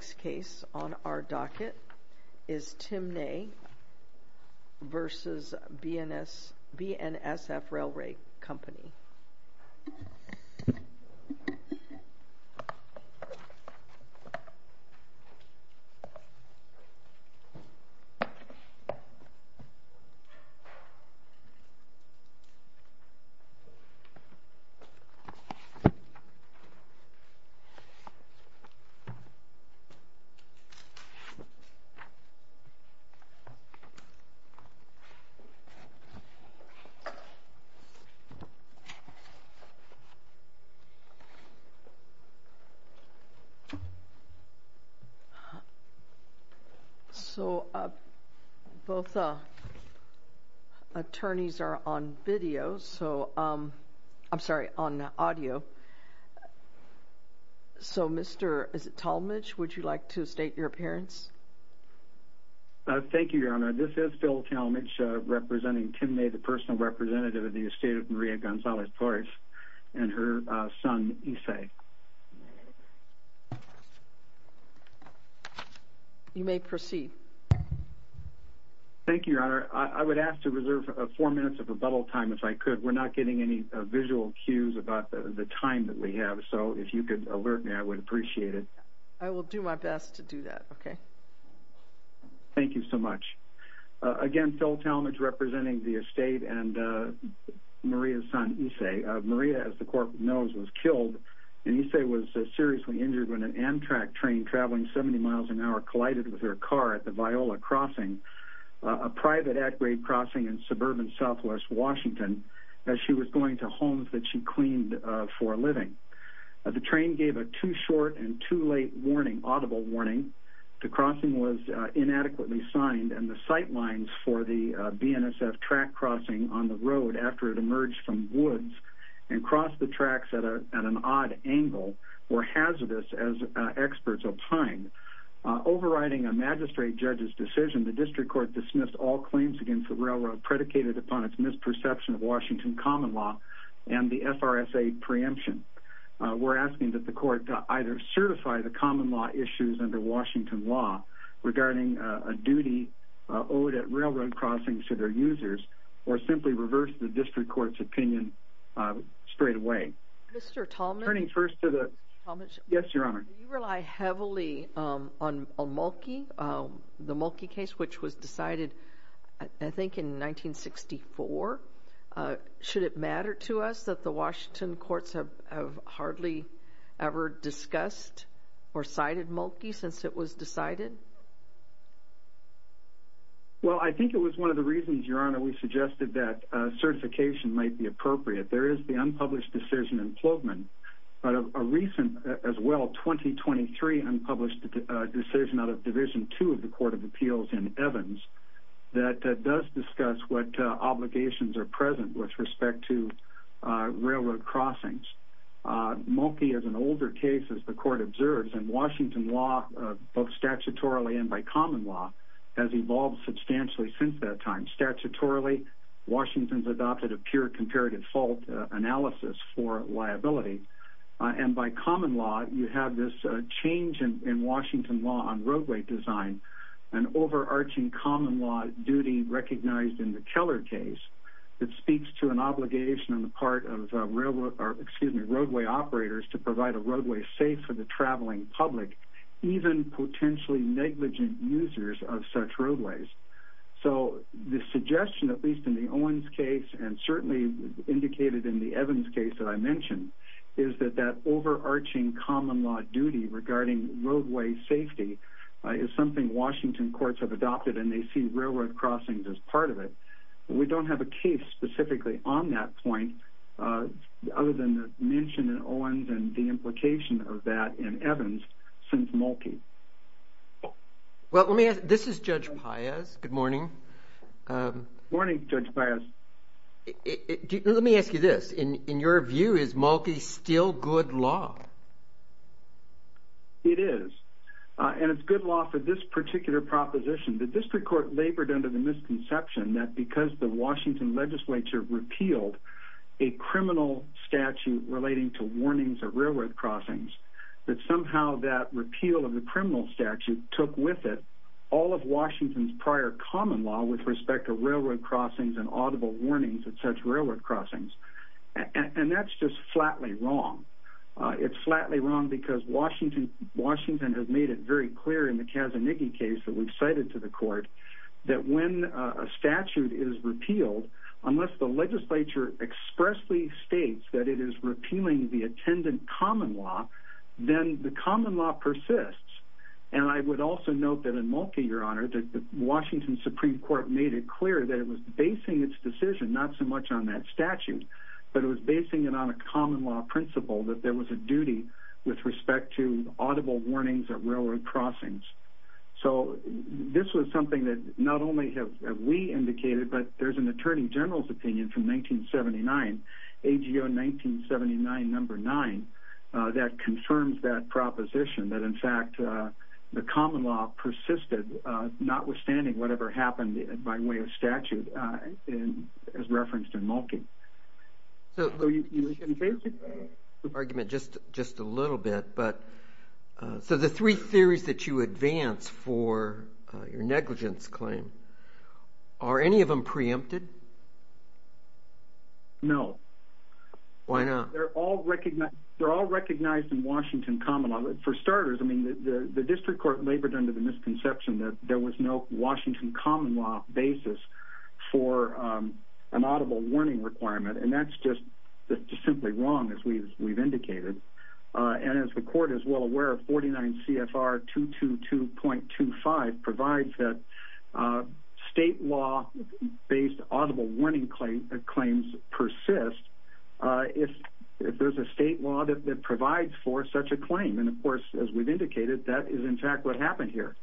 Our next case on our docket is Tim Nay v. BNSF Railway Company. So both attorneys are on video, I'm sorry, on audio. So Mr. Talmadge, would you like to state your appearance? Thank you, Your Honor. This is Phil Talmadge representing Tim Nay, the personal representative of the estate of Maria Gonzalez Torres and her son Issei. You may proceed. Thank you, Your Honor. I would ask to reserve four minutes of rebuttal time if I could. We're not getting any visual cues about the time that we have, so if you could alert me, I would appreciate it. I will do my best to do that, okay. Thank you so much. Again, Phil Talmadge representing the estate and Maria's son Issei. Maria, as the court knows, was killed and Issei was seriously injured when an Amtrak train traveling 70 miles an hour collided with her car at the Viola Crossing, a private at-grade crossing in suburban southwest Washington, as she was going to homes that she cleaned for a living. The train gave a too short and too late warning, audible warning. The crossing was inadequately signed and the sight lines for the BNSF track crossing on the road after it emerged from woods and crossed the tracks at an odd angle were hazardous, as experts opined. Overriding a magistrate judge's decision, the district court dismissed all claims against the railroad predicated upon its misperception of Washington common law and the FRSA preemption. We're asking that the court either certify the common law issues under Washington law regarding a duty owed at railroad crossings to their users or simply reverse the district court's opinion straight away. Mr. Talmadge? Turning first to the... Mr. Talmadge? Yes, Your Honor. Do you rely heavily on Mulkey, the Mulkey case which was decided, I think, in 1964? Should it matter to us that the Washington courts have hardly ever discussed or cited Mulkey since it was decided? Well, I think it was one of the reasons, Your Honor, we suggested that certification might be appropriate. There is the unpublished decision in Plotman, but a recent, as well, 2023 unpublished decision out of Division II of the Court of Appeals in Evans that does discuss what obligations are present with respect to railroad crossings. Mulkey is an older case, as the court observes, and Washington law, both statutorily and by common law, has evolved substantially since that time. Statutorily, Washington's adopted a pure comparative fault analysis for liability. And by common law, you have this change in Washington law on roadway design, an overarching common law duty recognized in the Keller case that speaks to an obligation on the part of roadway operators to provide a roadway safe for the traveling public, even potentially negligent users of such roadways. So the suggestion, at least in the Owens case, and certainly indicated in the Evans case that I mentioned, is that that overarching common law duty regarding roadway safety is something Washington courts have adopted, and they see railroad crossings as part of it. We don't have a case specifically on that point other than the mention in Owens and the implication of that in Evans since Mulkey. Well, let me ask – this is Judge Paez. Good morning. Good morning, Judge Paez. Let me ask you this. In your view, is Mulkey still good law? It is. And it's good law for this particular proposition. The district court labored under the misconception that because the Washington legislature repealed a criminal statute relating to warnings of railroad crossings, that somehow that repeal of the criminal statute took with it all of Washington's prior common law with respect to railroad crossings and audible warnings at such railroad crossings. And that's just flatly wrong. It's flatly wrong because Washington has made it very clear in the Kazanighi case that we've cited to the court that when a statute is repealed, unless the legislature expressly states that it is repealing the attendant common law, then the common law persists. And I would also note that in Mulkey, Your Honor, that the Washington Supreme Court made it clear that it was basing its decision not so much on that statute, but it was basing it on a common law principle that there was a duty with respect to audible warnings of railroad crossings. So this was something that not only have we indicated, but there's an attorney general's opinion from 1979, AGO 1979 No. 9, that confirms that proposition, that in fact the common law persisted notwithstanding whatever happened by way of statute as referenced in Mulkey. So the three theories that you advance for your negligence claim, are any of them preempted? No. Why not? If there's a state law that provides for such a claim. And of course, as we've indicated, that is in fact what happened here.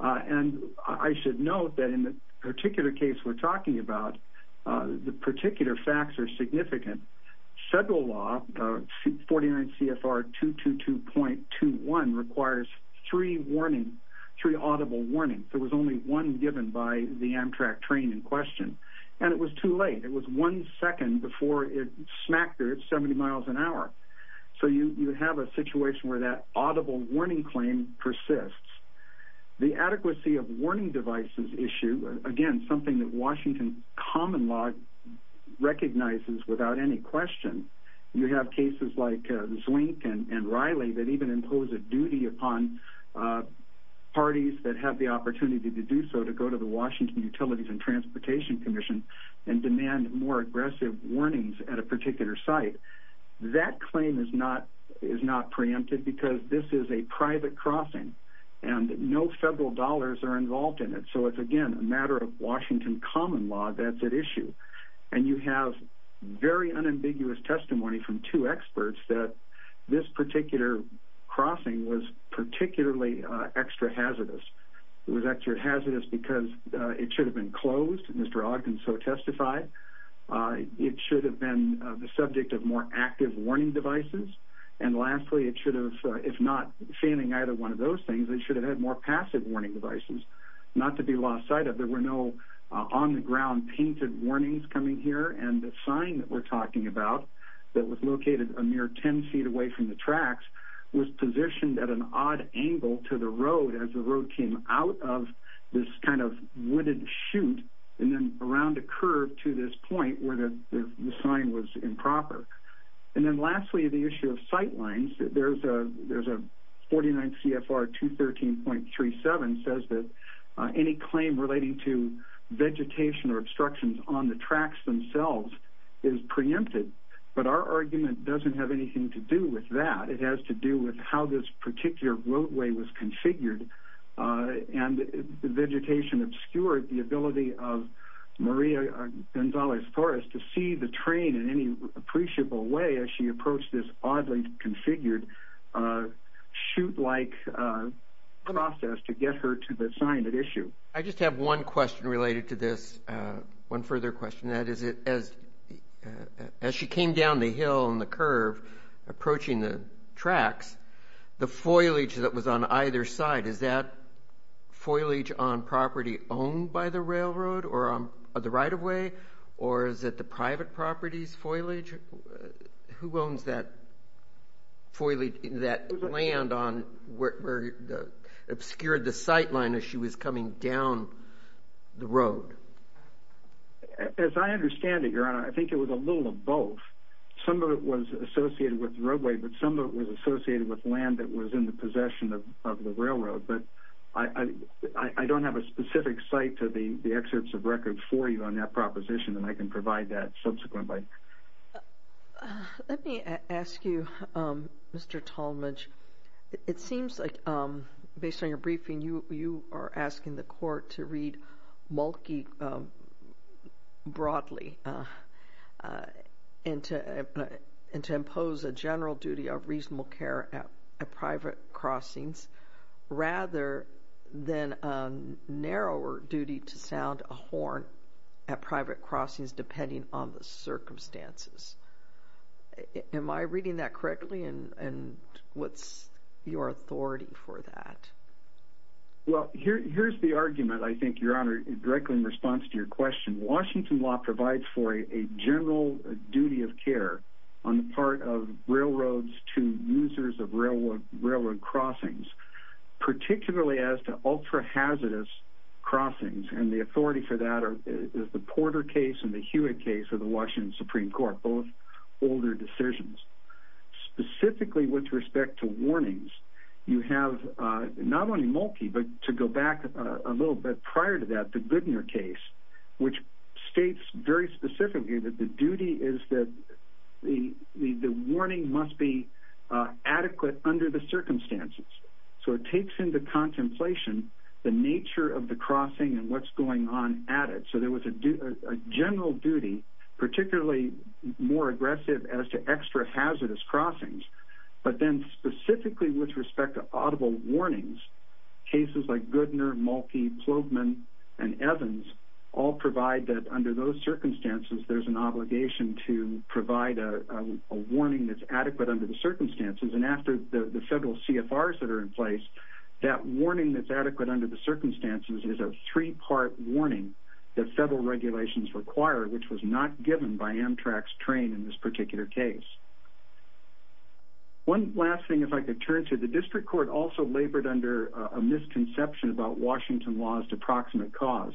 And I should note that in the particular case we're talking about, the particular facts are significant. Federal law 49 CFR 222.21 requires three warnings, three audible warnings. There was only one given by the Amtrak train in question, and it was too late. It was one second before it smacked her at 70 miles an hour. So you have a situation where that audible warning claim persists. The adequacy of warning devices issue, again, something that Washington common law recognizes without any question. You have cases like Zwink and Riley that even impose a duty upon parties that have the opportunity to do so, to go to the Washington Utilities and Transportation Commission and demand more aggressive warnings at a particular site. That claim is not preempted because this is a private crossing, and no federal dollars are involved in it. So it's, again, a matter of Washington common law that's at issue. And you have very unambiguous testimony from two experts that this particular crossing was particularly extra hazardous. It was extra hazardous because it should have been closed, and Mr. Ogden so testified. It should have been the subject of more active warning devices. And lastly, it should have, if not failing either one of those things, it should have had more passive warning devices, not to be lost sight of. There were no on-the-ground painted warnings coming here, and the sign that we're talking about that was located a mere 10 feet away from the tracks was positioned at an odd angle to the road as the road came out of this kind of wooded chute and then around a curve to this point where the sign was improper. And then lastly, the issue of sight lines. There's a 49 CFR 213.37 says that any claim relating to vegetation or obstructions on the tracks themselves is preempted. But our argument doesn't have anything to do with that. It has to do with how this particular roadway was configured, and vegetation obscured the ability of Maria Gonzalez-Torres to see the train in any appreciable way as she approached this oddly configured chute-like process to get her to the sign at issue. I just have one question related to this, one further question. That is, as she came down the hill and the curve approaching the tracks, the foliage that was on either side, is that foliage on property owned by the railroad or the right-of-way, or is it the private property's foliage? Who owns that land where it obscured the sight line as she was coming down the road? As I understand it, Your Honor, I think it was a little of both. Some of it was associated with the roadway, but some of it was associated with land that was in the possession of the railroad. But I don't have a specific site to the excerpts of record for you on that proposition, and I can provide that subsequently. Let me ask you, Mr. Tallmadge, it seems like, based on your briefing, you are asking the court to read Mulkey broadly and to impose a general duty of reasonable care at private crossings, rather than a narrower duty to sound a horn at private crossings depending on the circumstances. Am I reading that correctly, and what's your authority for that? Well, here's the argument, I think, Your Honor, directly in response to your question. Washington law provides for a general duty of care on the part of railroads to users of railroad crossings, particularly as to ultra-hazardous crossings, and the authority for that is the Porter case and the Hewitt case of the Washington Supreme Court, both older decisions. Specifically with respect to warnings, you have not only Mulkey, but to go back a little bit prior to that, the Goodner case, which states very specifically that the duty is that the warning must be adequate under the circumstances. So it takes into contemplation the nature of the crossing and what's going on at it. So there was a general duty, particularly more aggressive as to extra-hazardous crossings, but then specifically with respect to audible warnings, cases like Goodner, Mulkey, Plogman, and Evans, all provide that under those circumstances there's an obligation to provide a warning that's adequate under the circumstances, and after the federal CFRs that are in place, that warning that's adequate under the circumstances is a three-part warning that federal regulations require, which was not given by Amtrak's train in this particular case. One last thing, if I could turn to, the district court also labored under a misconception about Washington laws to proximate cause.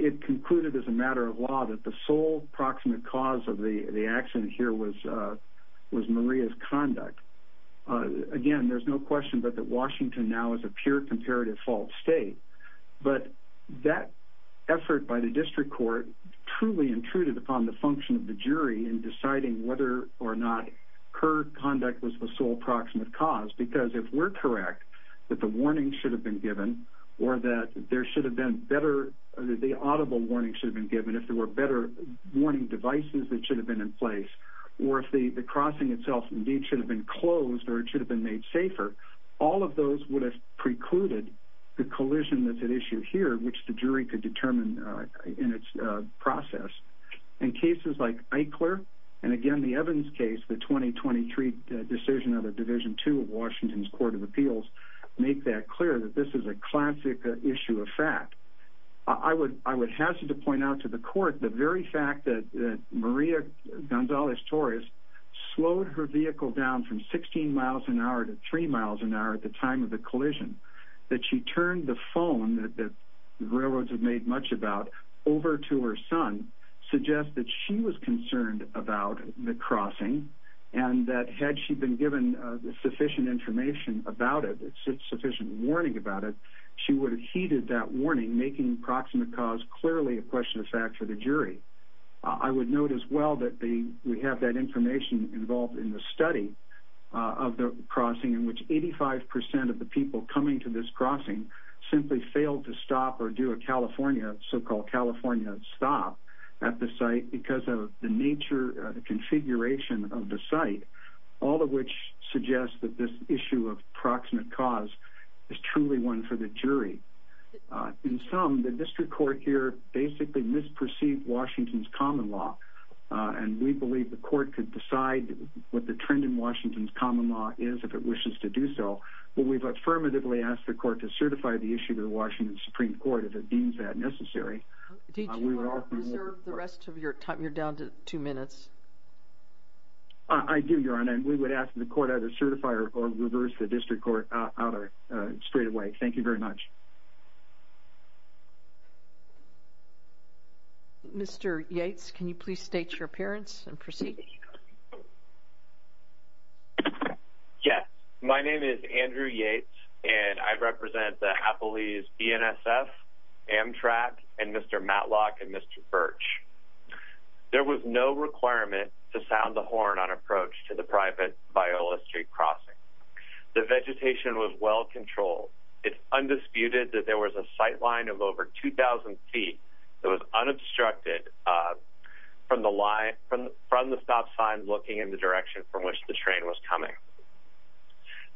It concluded as a matter of law that the sole proximate cause of the accident here was Maria's conduct. Again, there's no question but that Washington now is a pure comparative fault state, but that effort by the district court truly intruded upon the function of the jury in deciding whether or not her conduct was the sole proximate cause, because if we're correct that the warning should have been given or that there should have been better, the audible warning should have been given if there were better warning devices that should have been in place, or if the crossing itself indeed should have been closed or it should have been made safer, all of those would have precluded the collision that's at issue here, which the jury could determine in its process. In cases like Eichler, and again the Evans case, the 2023 decision of the Division II of Washington's Court of Appeals, make that clear that this is a classic issue of fact. I would hazard to point out to the court the very fact that Maria Gonzalez-Torres slowed her vehicle down from 16 miles an hour to 3 miles an hour at the time of the collision, that she turned the phone that the railroads have made much about over to her son, suggest that she was concerned about the crossing and that had she been given sufficient information about it, sufficient warning about it, she would have heeded that warning, making proximate cause clearly a question of fact for the jury. I would note as well that we have that information involved in the study of the crossing, in which 85% of the people coming to this crossing simply failed to stop or do a so-called California stop at the site, because of the configuration of the site, all of which suggests that this issue of proximate cause is truly one for the jury. In sum, the district court here basically misperceived Washington's common law, and we believe the court could decide what the trend in Washington's common law is if it wishes to do so, but we've affirmatively asked the court to certify the issue to the Washington Supreme Court if it deems that necessary. Did you reserve the rest of your time? You're down to two minutes. I do, Your Honor, and we would ask that the court either certify or reverse the district court order straightaway. Thank you very much. Mr. Yates, can you please state your appearance and proceed? Yes. My name is Andrew Yates, and I represent the Appalachian BNSF, Amtrak, and Mr. Matlock and Mr. Birch. There was no requirement to sound the horn on approach to the private Viola Street crossing. The vegetation was well controlled. It's undisputed that there was a sight line of over 2,000 feet that was unobstructed from the stop sign looking in the direction from which the train was coming.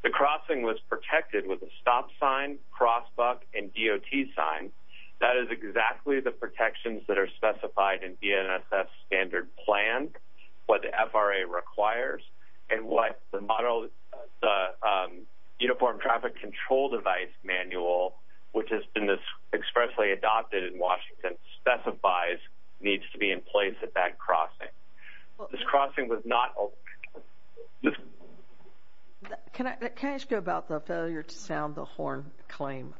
The crossing was protected with a stop sign, cross buck, and DOT sign. That is exactly the protections that are specified in BNSF standard plan, what the FRA requires, and what the uniform traffic control device manual, which has been expressly adopted in Washington, specifies needs to be in place at that crossing. Can I ask you about the failure to sound the horn claim?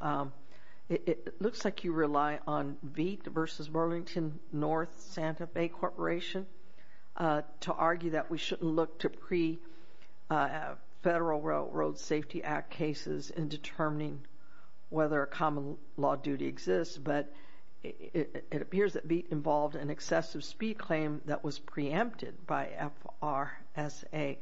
It looks like you rely on VEET versus Burlington North Santa Fe Corporation to argue that we shouldn't look to pre-Federal Road Safety Act cases in determining whether a common law duty exists, but it appears that VEET involved an excessive speed claim that was preempted by FRSA.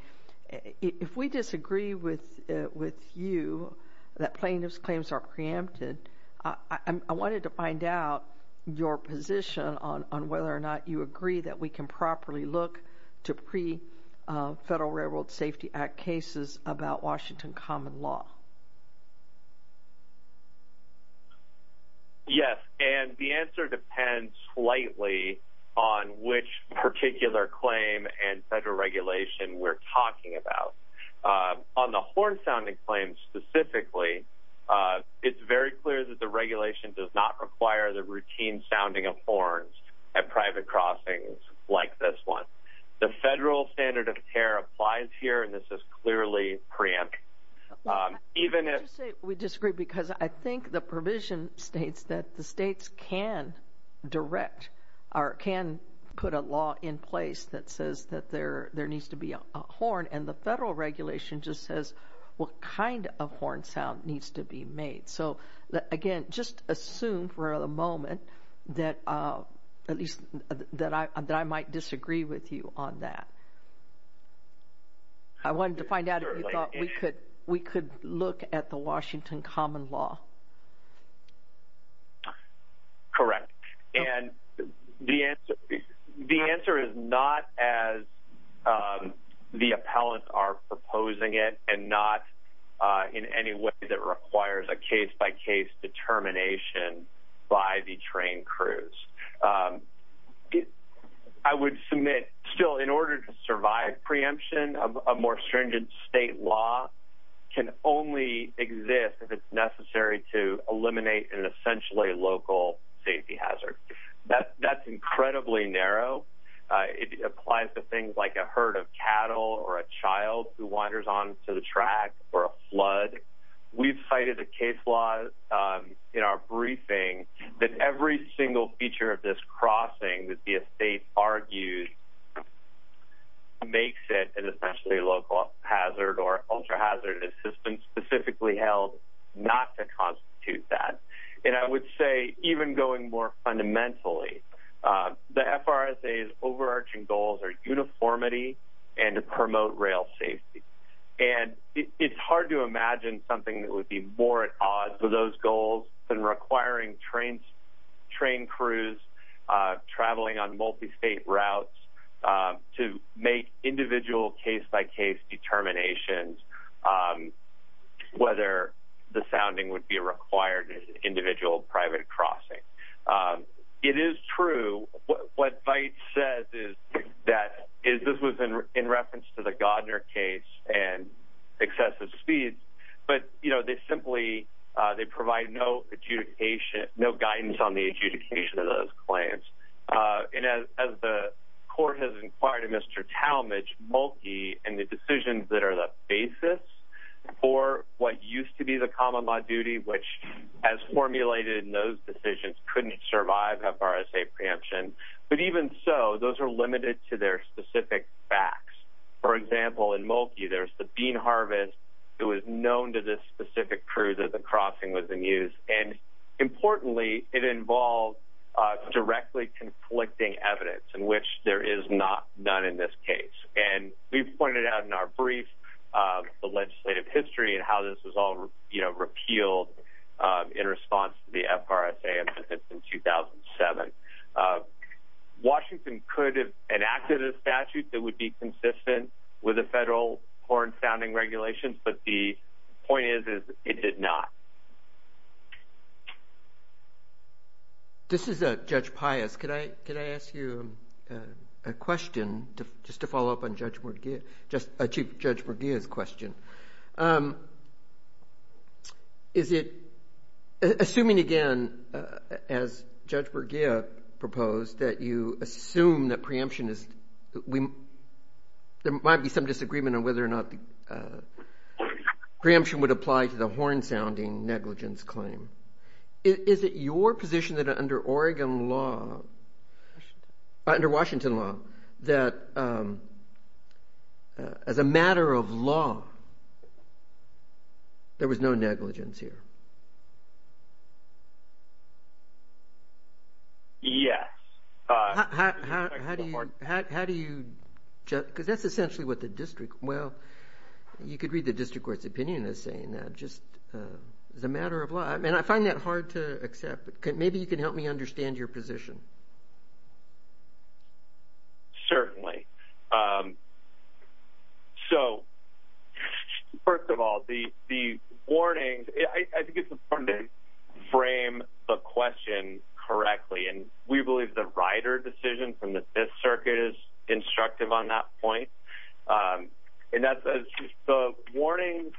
If we disagree with you that plaintiff's claims are preempted, I wanted to find out your position on whether or not you agree that we can properly look to pre-Federal Road Safety Act cases about Washington common law. Yes, and the answer depends slightly on which particular claim and Federal regulation we're talking about. On the horn sounding claims specifically, it's very clear that the regulation does not require the routine sounding of horns at private crossings like this one. The Federal standard of care applies here, and this is clearly preempted. We disagree because I think the provision states that the states can direct or can put a law in place that says that there needs to be a horn, and the Federal regulation just says what kind of horn sound needs to be made. So, again, just assume for the moment that I might disagree with you on that. I wanted to find out if you thought we could look at the Washington common law. Correct, and the answer is not as the appellants are proposing it and not in any way that requires a case-by-case determination by the train crews. I would submit still in order to survive preemption, a more stringent state law can only exist if it's necessary to eliminate an essentially local safety hazard. That's incredibly narrow. It applies to things like a herd of cattle or a child who wanders onto the track or a flood. We've cited a case law in our briefing that every single feature of this crossing that the estate argues makes it an essentially local hazard or ultra-hazard assistance, specifically held not to constitute that. And I would say even going more fundamentally, the FRSA's overarching goals are uniformity and to promote rail safety. And it's hard to imagine something that would be more at odds with those goals than requiring train crews traveling on multi-state routes to make individual case-by-case determinations, whether the sounding would be required as an individual private crossing. It is true. What Veit says is that this was in reference to the Godner case and excessive speeds, but they simply provide no guidance on the adjudication of those claims. And as the court has inquired of Mr. Talmadge, Mulkey and the decisions that are the basis for what used to be the common law duty, which as formulated in those decisions, couldn't survive FRSA preemption. But even so, those are limited to their specific facts. For example, in Mulkey, there's the bean harvest. It was known to this specific crew that the crossing was in use. And importantly, it involved directly conflicting evidence in which there is none in this case. And we've pointed out in our brief the legislative history and how this was all repealed in response to the FRSA in 2007. Washington could have enacted a statute that would be consistent with the federal foreign sounding regulations, but the point is it did not. This is Judge Pius. Could I ask you a question just to follow up on Chief Judge Borgia's question? Is it assuming again, as Judge Borgia proposed, that you assume that preemption is – there might be some disagreement on whether or not the preemption would apply to the horn sounding negligence claim. Is it your position that under Oregon law, under Washington law, that as a matter of law, there was no negligence here? Yes. How do you – because that's essentially what the district – well, you could read the district court's opinion as saying that just as a matter of law. And I find that hard to accept. Maybe you can help me understand your position. Certainly. So first of all, the warnings – I think it's important to frame the question correctly. And we believe the rider decision from the Fifth Circuit is instructive on that point. And that's – the warnings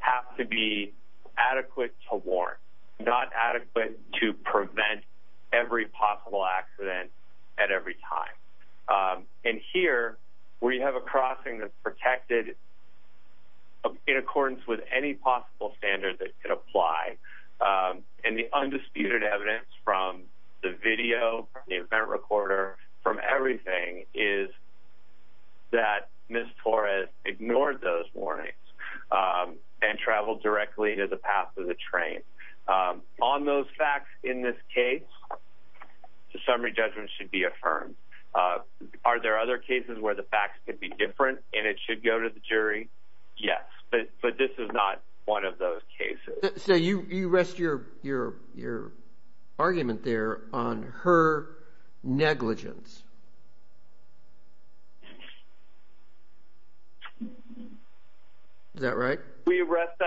have to be adequate to warrant, not adequate to prevent every possible accident at every time. And here, we have a crossing that's protected in accordance with any possible standard that could apply. And the undisputed evidence from the video, from the event recorder, from everything is that Ms. Torres ignored those warnings and traveled directly to the path of the train. On those facts in this case, the summary judgment should be affirmed. Are there other cases where the facts could be different and it should go to the jury? Yes. But this is not one of those cases. So you rest your argument there on her negligence. Is that right? We rest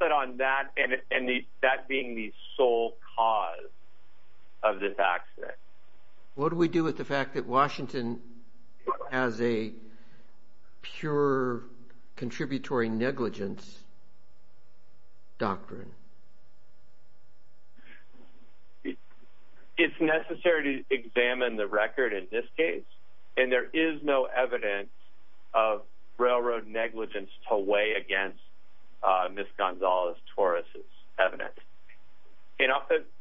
that on that and that being the sole cause of this accident. What do we do with the fact that Washington has a pure contributory negligence doctrine? It's necessary to examine the record in this case. And there is no evidence of railroad negligence to weigh against Ms. Gonzalez-Torres' evidence. And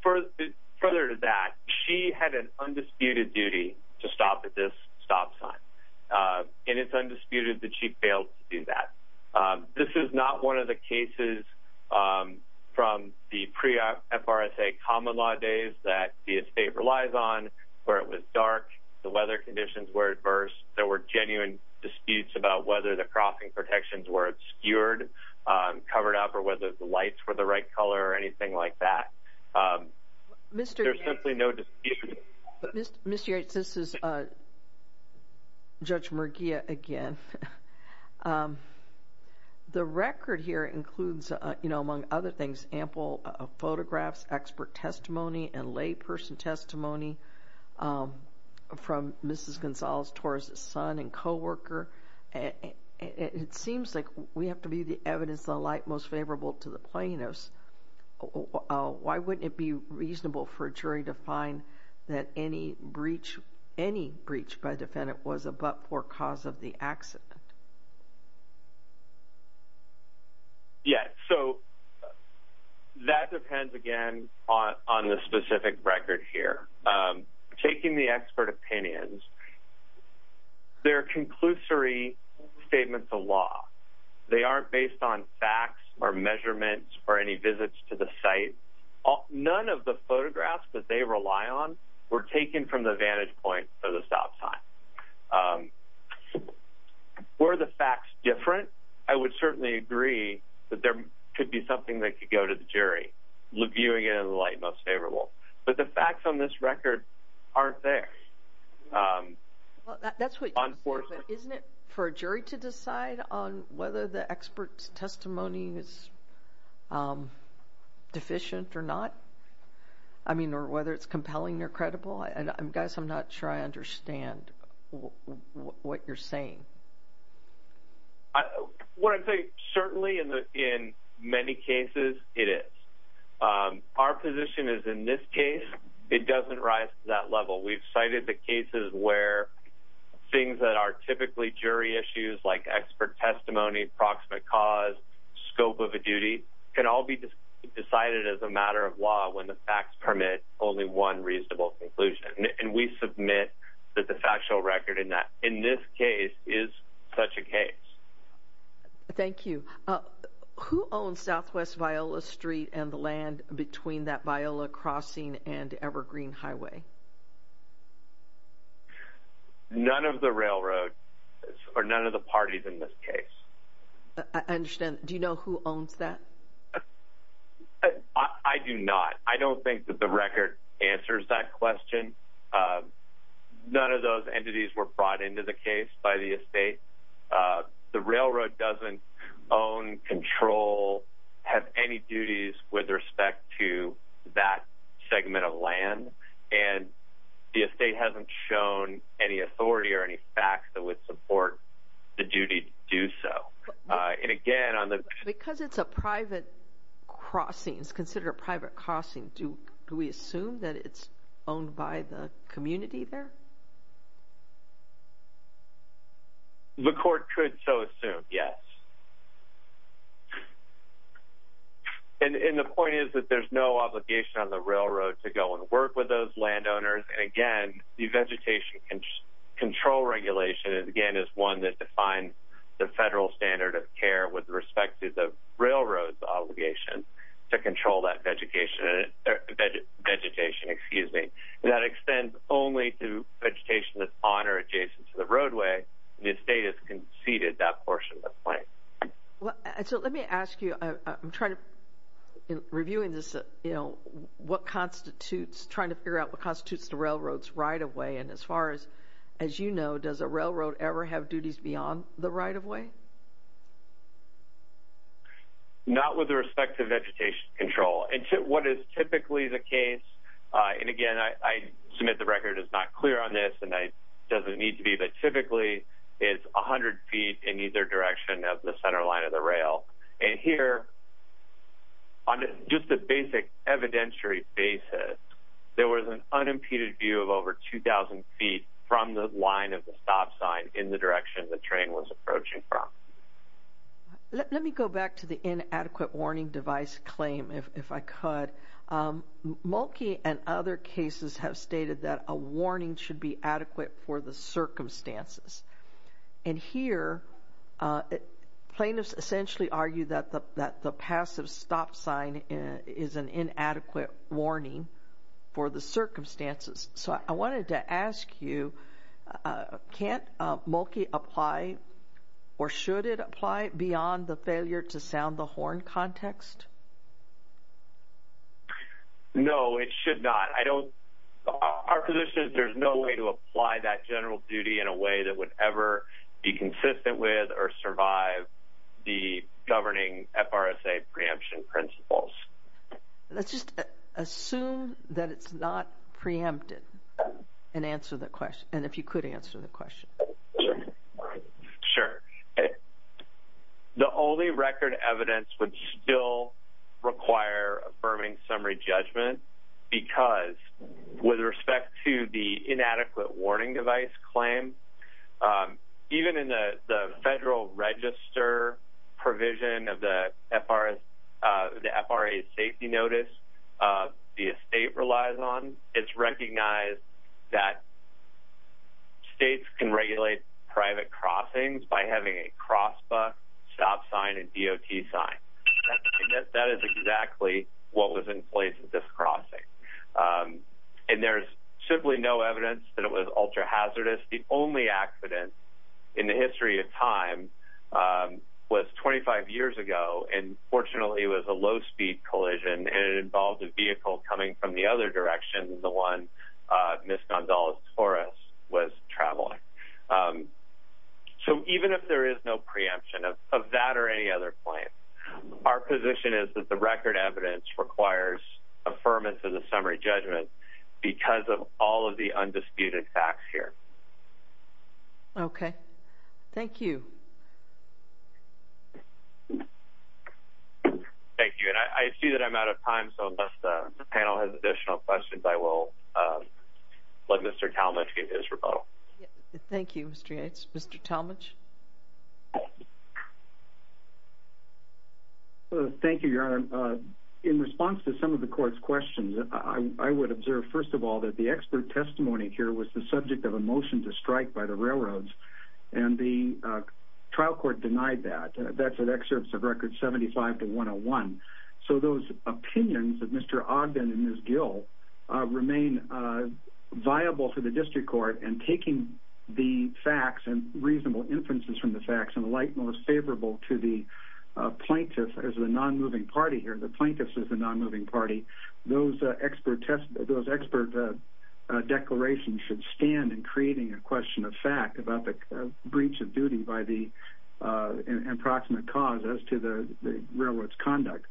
further to that, she had an undisputed duty to stop at this stop sign. And it's undisputed that she failed to do that. This is not one of the cases from the pre-FRSA common law days that the estate relies on where it was dark, the weather conditions were adverse, there were genuine disputes about whether the crossing protections were obscured, covered up, or whether the lights were the right color or anything like that. There's simply no dispute. Ms. Yates, this is Judge Murguia again. The record here includes, you know, among other things, ample photographs, expert testimony, and layperson testimony from Mrs. Gonzalez-Torres' son and coworker. It seems like we have to be the evidence, the light most favorable to the plaintiffs. Why wouldn't it be reasonable for a jury to find that any breach by a defendant was a but-for cause of the accident? Yeah, so that depends, again, on the specific record here. Taking the expert opinions, they're conclusory statements of law. They aren't based on facts or measurements or any visits to the site. None of the photographs that they rely on were taken from the vantage point of the stop sign. Were the facts different, I would certainly agree that there could be something that could go to the jury, viewing it in the light most favorable. But the facts on this record aren't there. Well, that's what you said, but isn't it for a jury to decide on whether the expert's testimony is deficient or not? I mean, or whether it's compelling or credible? And, guys, I'm not sure I understand what you're saying. What I'm saying, certainly in many cases, it is. Our position is in this case, it doesn't rise to that level. We've cited the cases where things that are typically jury issues, like expert testimony, approximate cause, scope of a duty, can all be decided as a matter of law when the facts permit only one reasonable conclusion. And we submit that the factual record in this case is such a case. Thank you. Who owns Southwest Viola Street and the land between that Viola Crossing and Evergreen Highway? None of the railroad, or none of the parties in this case. I understand. Do you know who owns that? I do not. I don't think that the record answers that question. None of those entities were brought into the case by the estate. The railroad doesn't own, control, have any duties with respect to that segment of land. And the estate hasn't shown any authority or any facts that would support the duty to do so. And, again, on the— Because it's a private crossing, it's considered a private crossing, do we assume that it's owned by the community there? The court could so assume, yes. And the point is that there's no obligation on the railroad to go and work with those landowners. And, again, the vegetation control regulation, again, is one that defines the federal standard of care with respect to the railroad's obligation to control that vegetation. That extends only to vegetation that's on or adjacent to the roadway. The estate has conceded that portion of the claim. So let me ask you, I'm trying to—reviewing this, you know, what constitutes— trying to figure out what constitutes the railroad's right-of-way. And as far as you know, does a railroad ever have duties beyond the right-of-way? Not with respect to vegetation control. And what is typically the case—and, again, I submit the record is not clear on this, and it doesn't need to be, but typically it's 100 feet in either direction of the center line of the rail. And here, on just a basic evidentiary basis, there was an unimpeded view of over 2,000 feet from the line of the stop sign in the direction the train was approaching from. Let me go back to the inadequate warning device claim, if I could. Mulkey and other cases have stated that a warning should be adequate for the circumstances. And here, plaintiffs essentially argue that the passive stop sign is an inadequate warning for the circumstances. So I wanted to ask you, can't Mulkey apply, or should it apply, beyond the failure-to-sound-the-horn context? No, it should not. I don't—our position is there's no way to apply that general duty in a way that would ever be consistent with or survive the governing FRSA preemption principles. Let's just assume that it's not preempted and answer the question, and if you could answer the question. Sure. The only record evidence would still require affirming summary judgment because with respect to the inadequate warning device claim, even in the federal register provision of the FRA safety notice the estate relies on, it's recognized that states can regulate private crossings by having a cross buck, stop sign, and DOT sign. That is exactly what was in place at this crossing. And there's simply no evidence that it was ultra-hazardous. The only accident in the history of time was 25 years ago, and fortunately it was a low-speed collision, and it involved a vehicle coming from the other direction than the one Ms. Gonzales-Torres was traveling. So even if there is no preemption of that or any other claim, our position is that the record evidence requires affirmance of the summary judgment because of all of the undisputed facts here. Okay. Thank you. Thank you, and I see that I'm out of time, so unless the panel has additional questions, I will let Mr. Talmadge give his rebuttal. Thank you, Mr. Yates. Mr. Talmadge? Thank you, Your Honor. Your Honor, in response to some of the court's questions, I would observe, first of all, that the expert testimony here was the subject of a motion to strike by the railroads, and the trial court denied that. That's in excerpts of records 75 to 101. So those opinions of Mr. Ogden and Ms. Gill remain viable for the district court, and taking the facts and reasonable inferences from the facts and the light most favorable to the plaintiff as the non-moving party here, the plaintiffs as the non-moving party, those expert declarations should stand in creating a question of fact about the breach of duty by the approximate cause as to the railroad's conduct.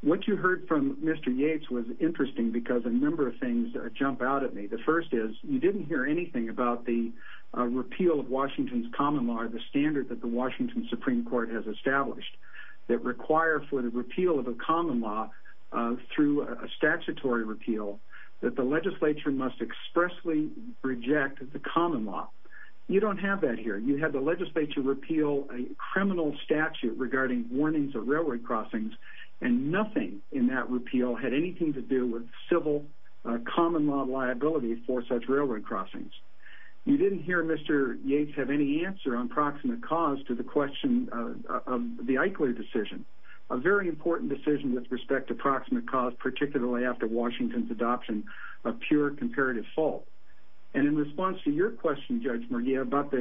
What you heard from Mr. Yates was interesting because a number of things jump out at me. The first is you didn't hear anything about the repeal of Washington's common law or the standard that the Washington Supreme Court has established that require for the repeal of a common law through a statutory repeal that the legislature must expressly reject the common law. You don't have that here. You had the legislature repeal a criminal statute regarding warnings of railroad crossings, and nothing in that repeal had anything to do with civil common law liability for such railroad crossings. You didn't hear Mr. Yates have any answer on proximate cause to the question of the Eichler decision, a very important decision with respect to proximate cause, particularly after Washington's adoption of pure comparative fault. And in response to your question, Judge Murguia, about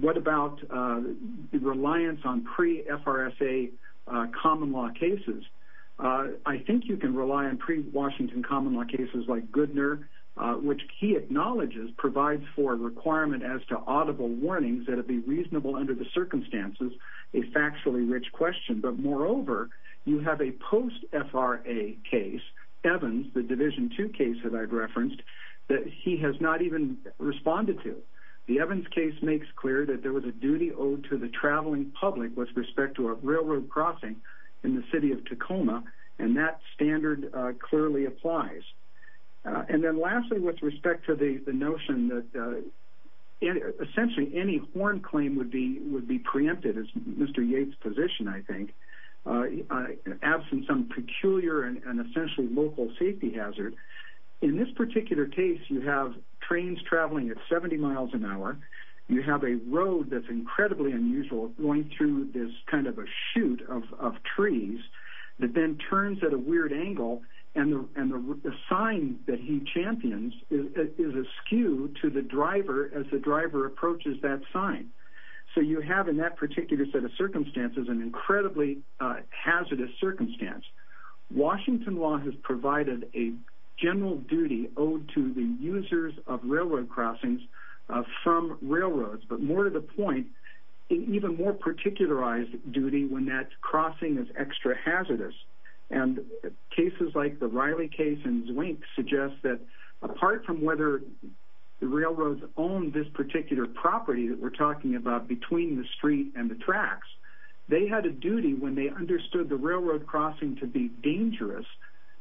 what about the reliance on pre-FRSA common law cases, I think you can rely on pre-Washington common law cases like Goodner, which he acknowledges provides for a requirement as to audible warnings that it be reasonable under the circumstances, a factually rich question. But moreover, you have a post-FRA case, Evans, the Division 2 case that I've referenced, that he has not even responded to. The Evans case makes clear that there was a duty owed to the traveling public with respect to a railroad crossing in the city of Tacoma, and that standard clearly applies. And then lastly, with respect to the notion that essentially any horn claim would be preempted, as Mr. Yates' position, I think, absent some peculiar and essentially local safety hazard, in this particular case you have trains traveling at 70 miles an hour, you have a road that's incredibly unusual going through this kind of a shoot of trees that then turns at a weird angle, and the sign that he champions is askew to the driver as the driver approaches that sign. So you have in that particular set of circumstances an incredibly hazardous circumstance. Washington law has provided a general duty owed to the users of railroad crossings from railroads, but more to the point, an even more particularized duty when that crossing is extra hazardous. And cases like the Riley case and Zwink suggest that apart from whether the railroads own this particular property that we're talking about between the street and the tracks, they had a duty when they understood the railroad crossing to be dangerous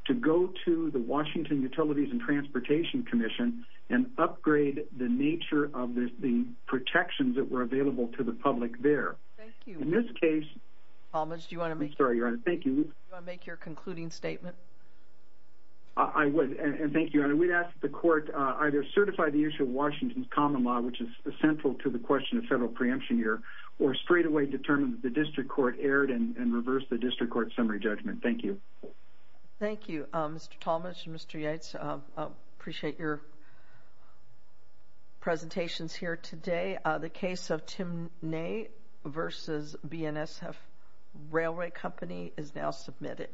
to go to the Washington Utilities and Transportation Commission and upgrade the nature of the protections that were available to the public there. Thank you. In this case... Thomas, do you want to make... I'm sorry, Your Honor, thank you. Do you want to make your concluding statement? I would, and thank you, Your Honor. We'd ask that the court either certify the issue of Washington's common law, which is central to the question of federal preemption here, or straightaway determine that the district court erred and reverse the district court summary judgment. Thank you. Thank you, Mr. Talmadge and Mr. Yates. I appreciate your presentations here today. The case of Timnay v. BNSF Railway Company is now submitted.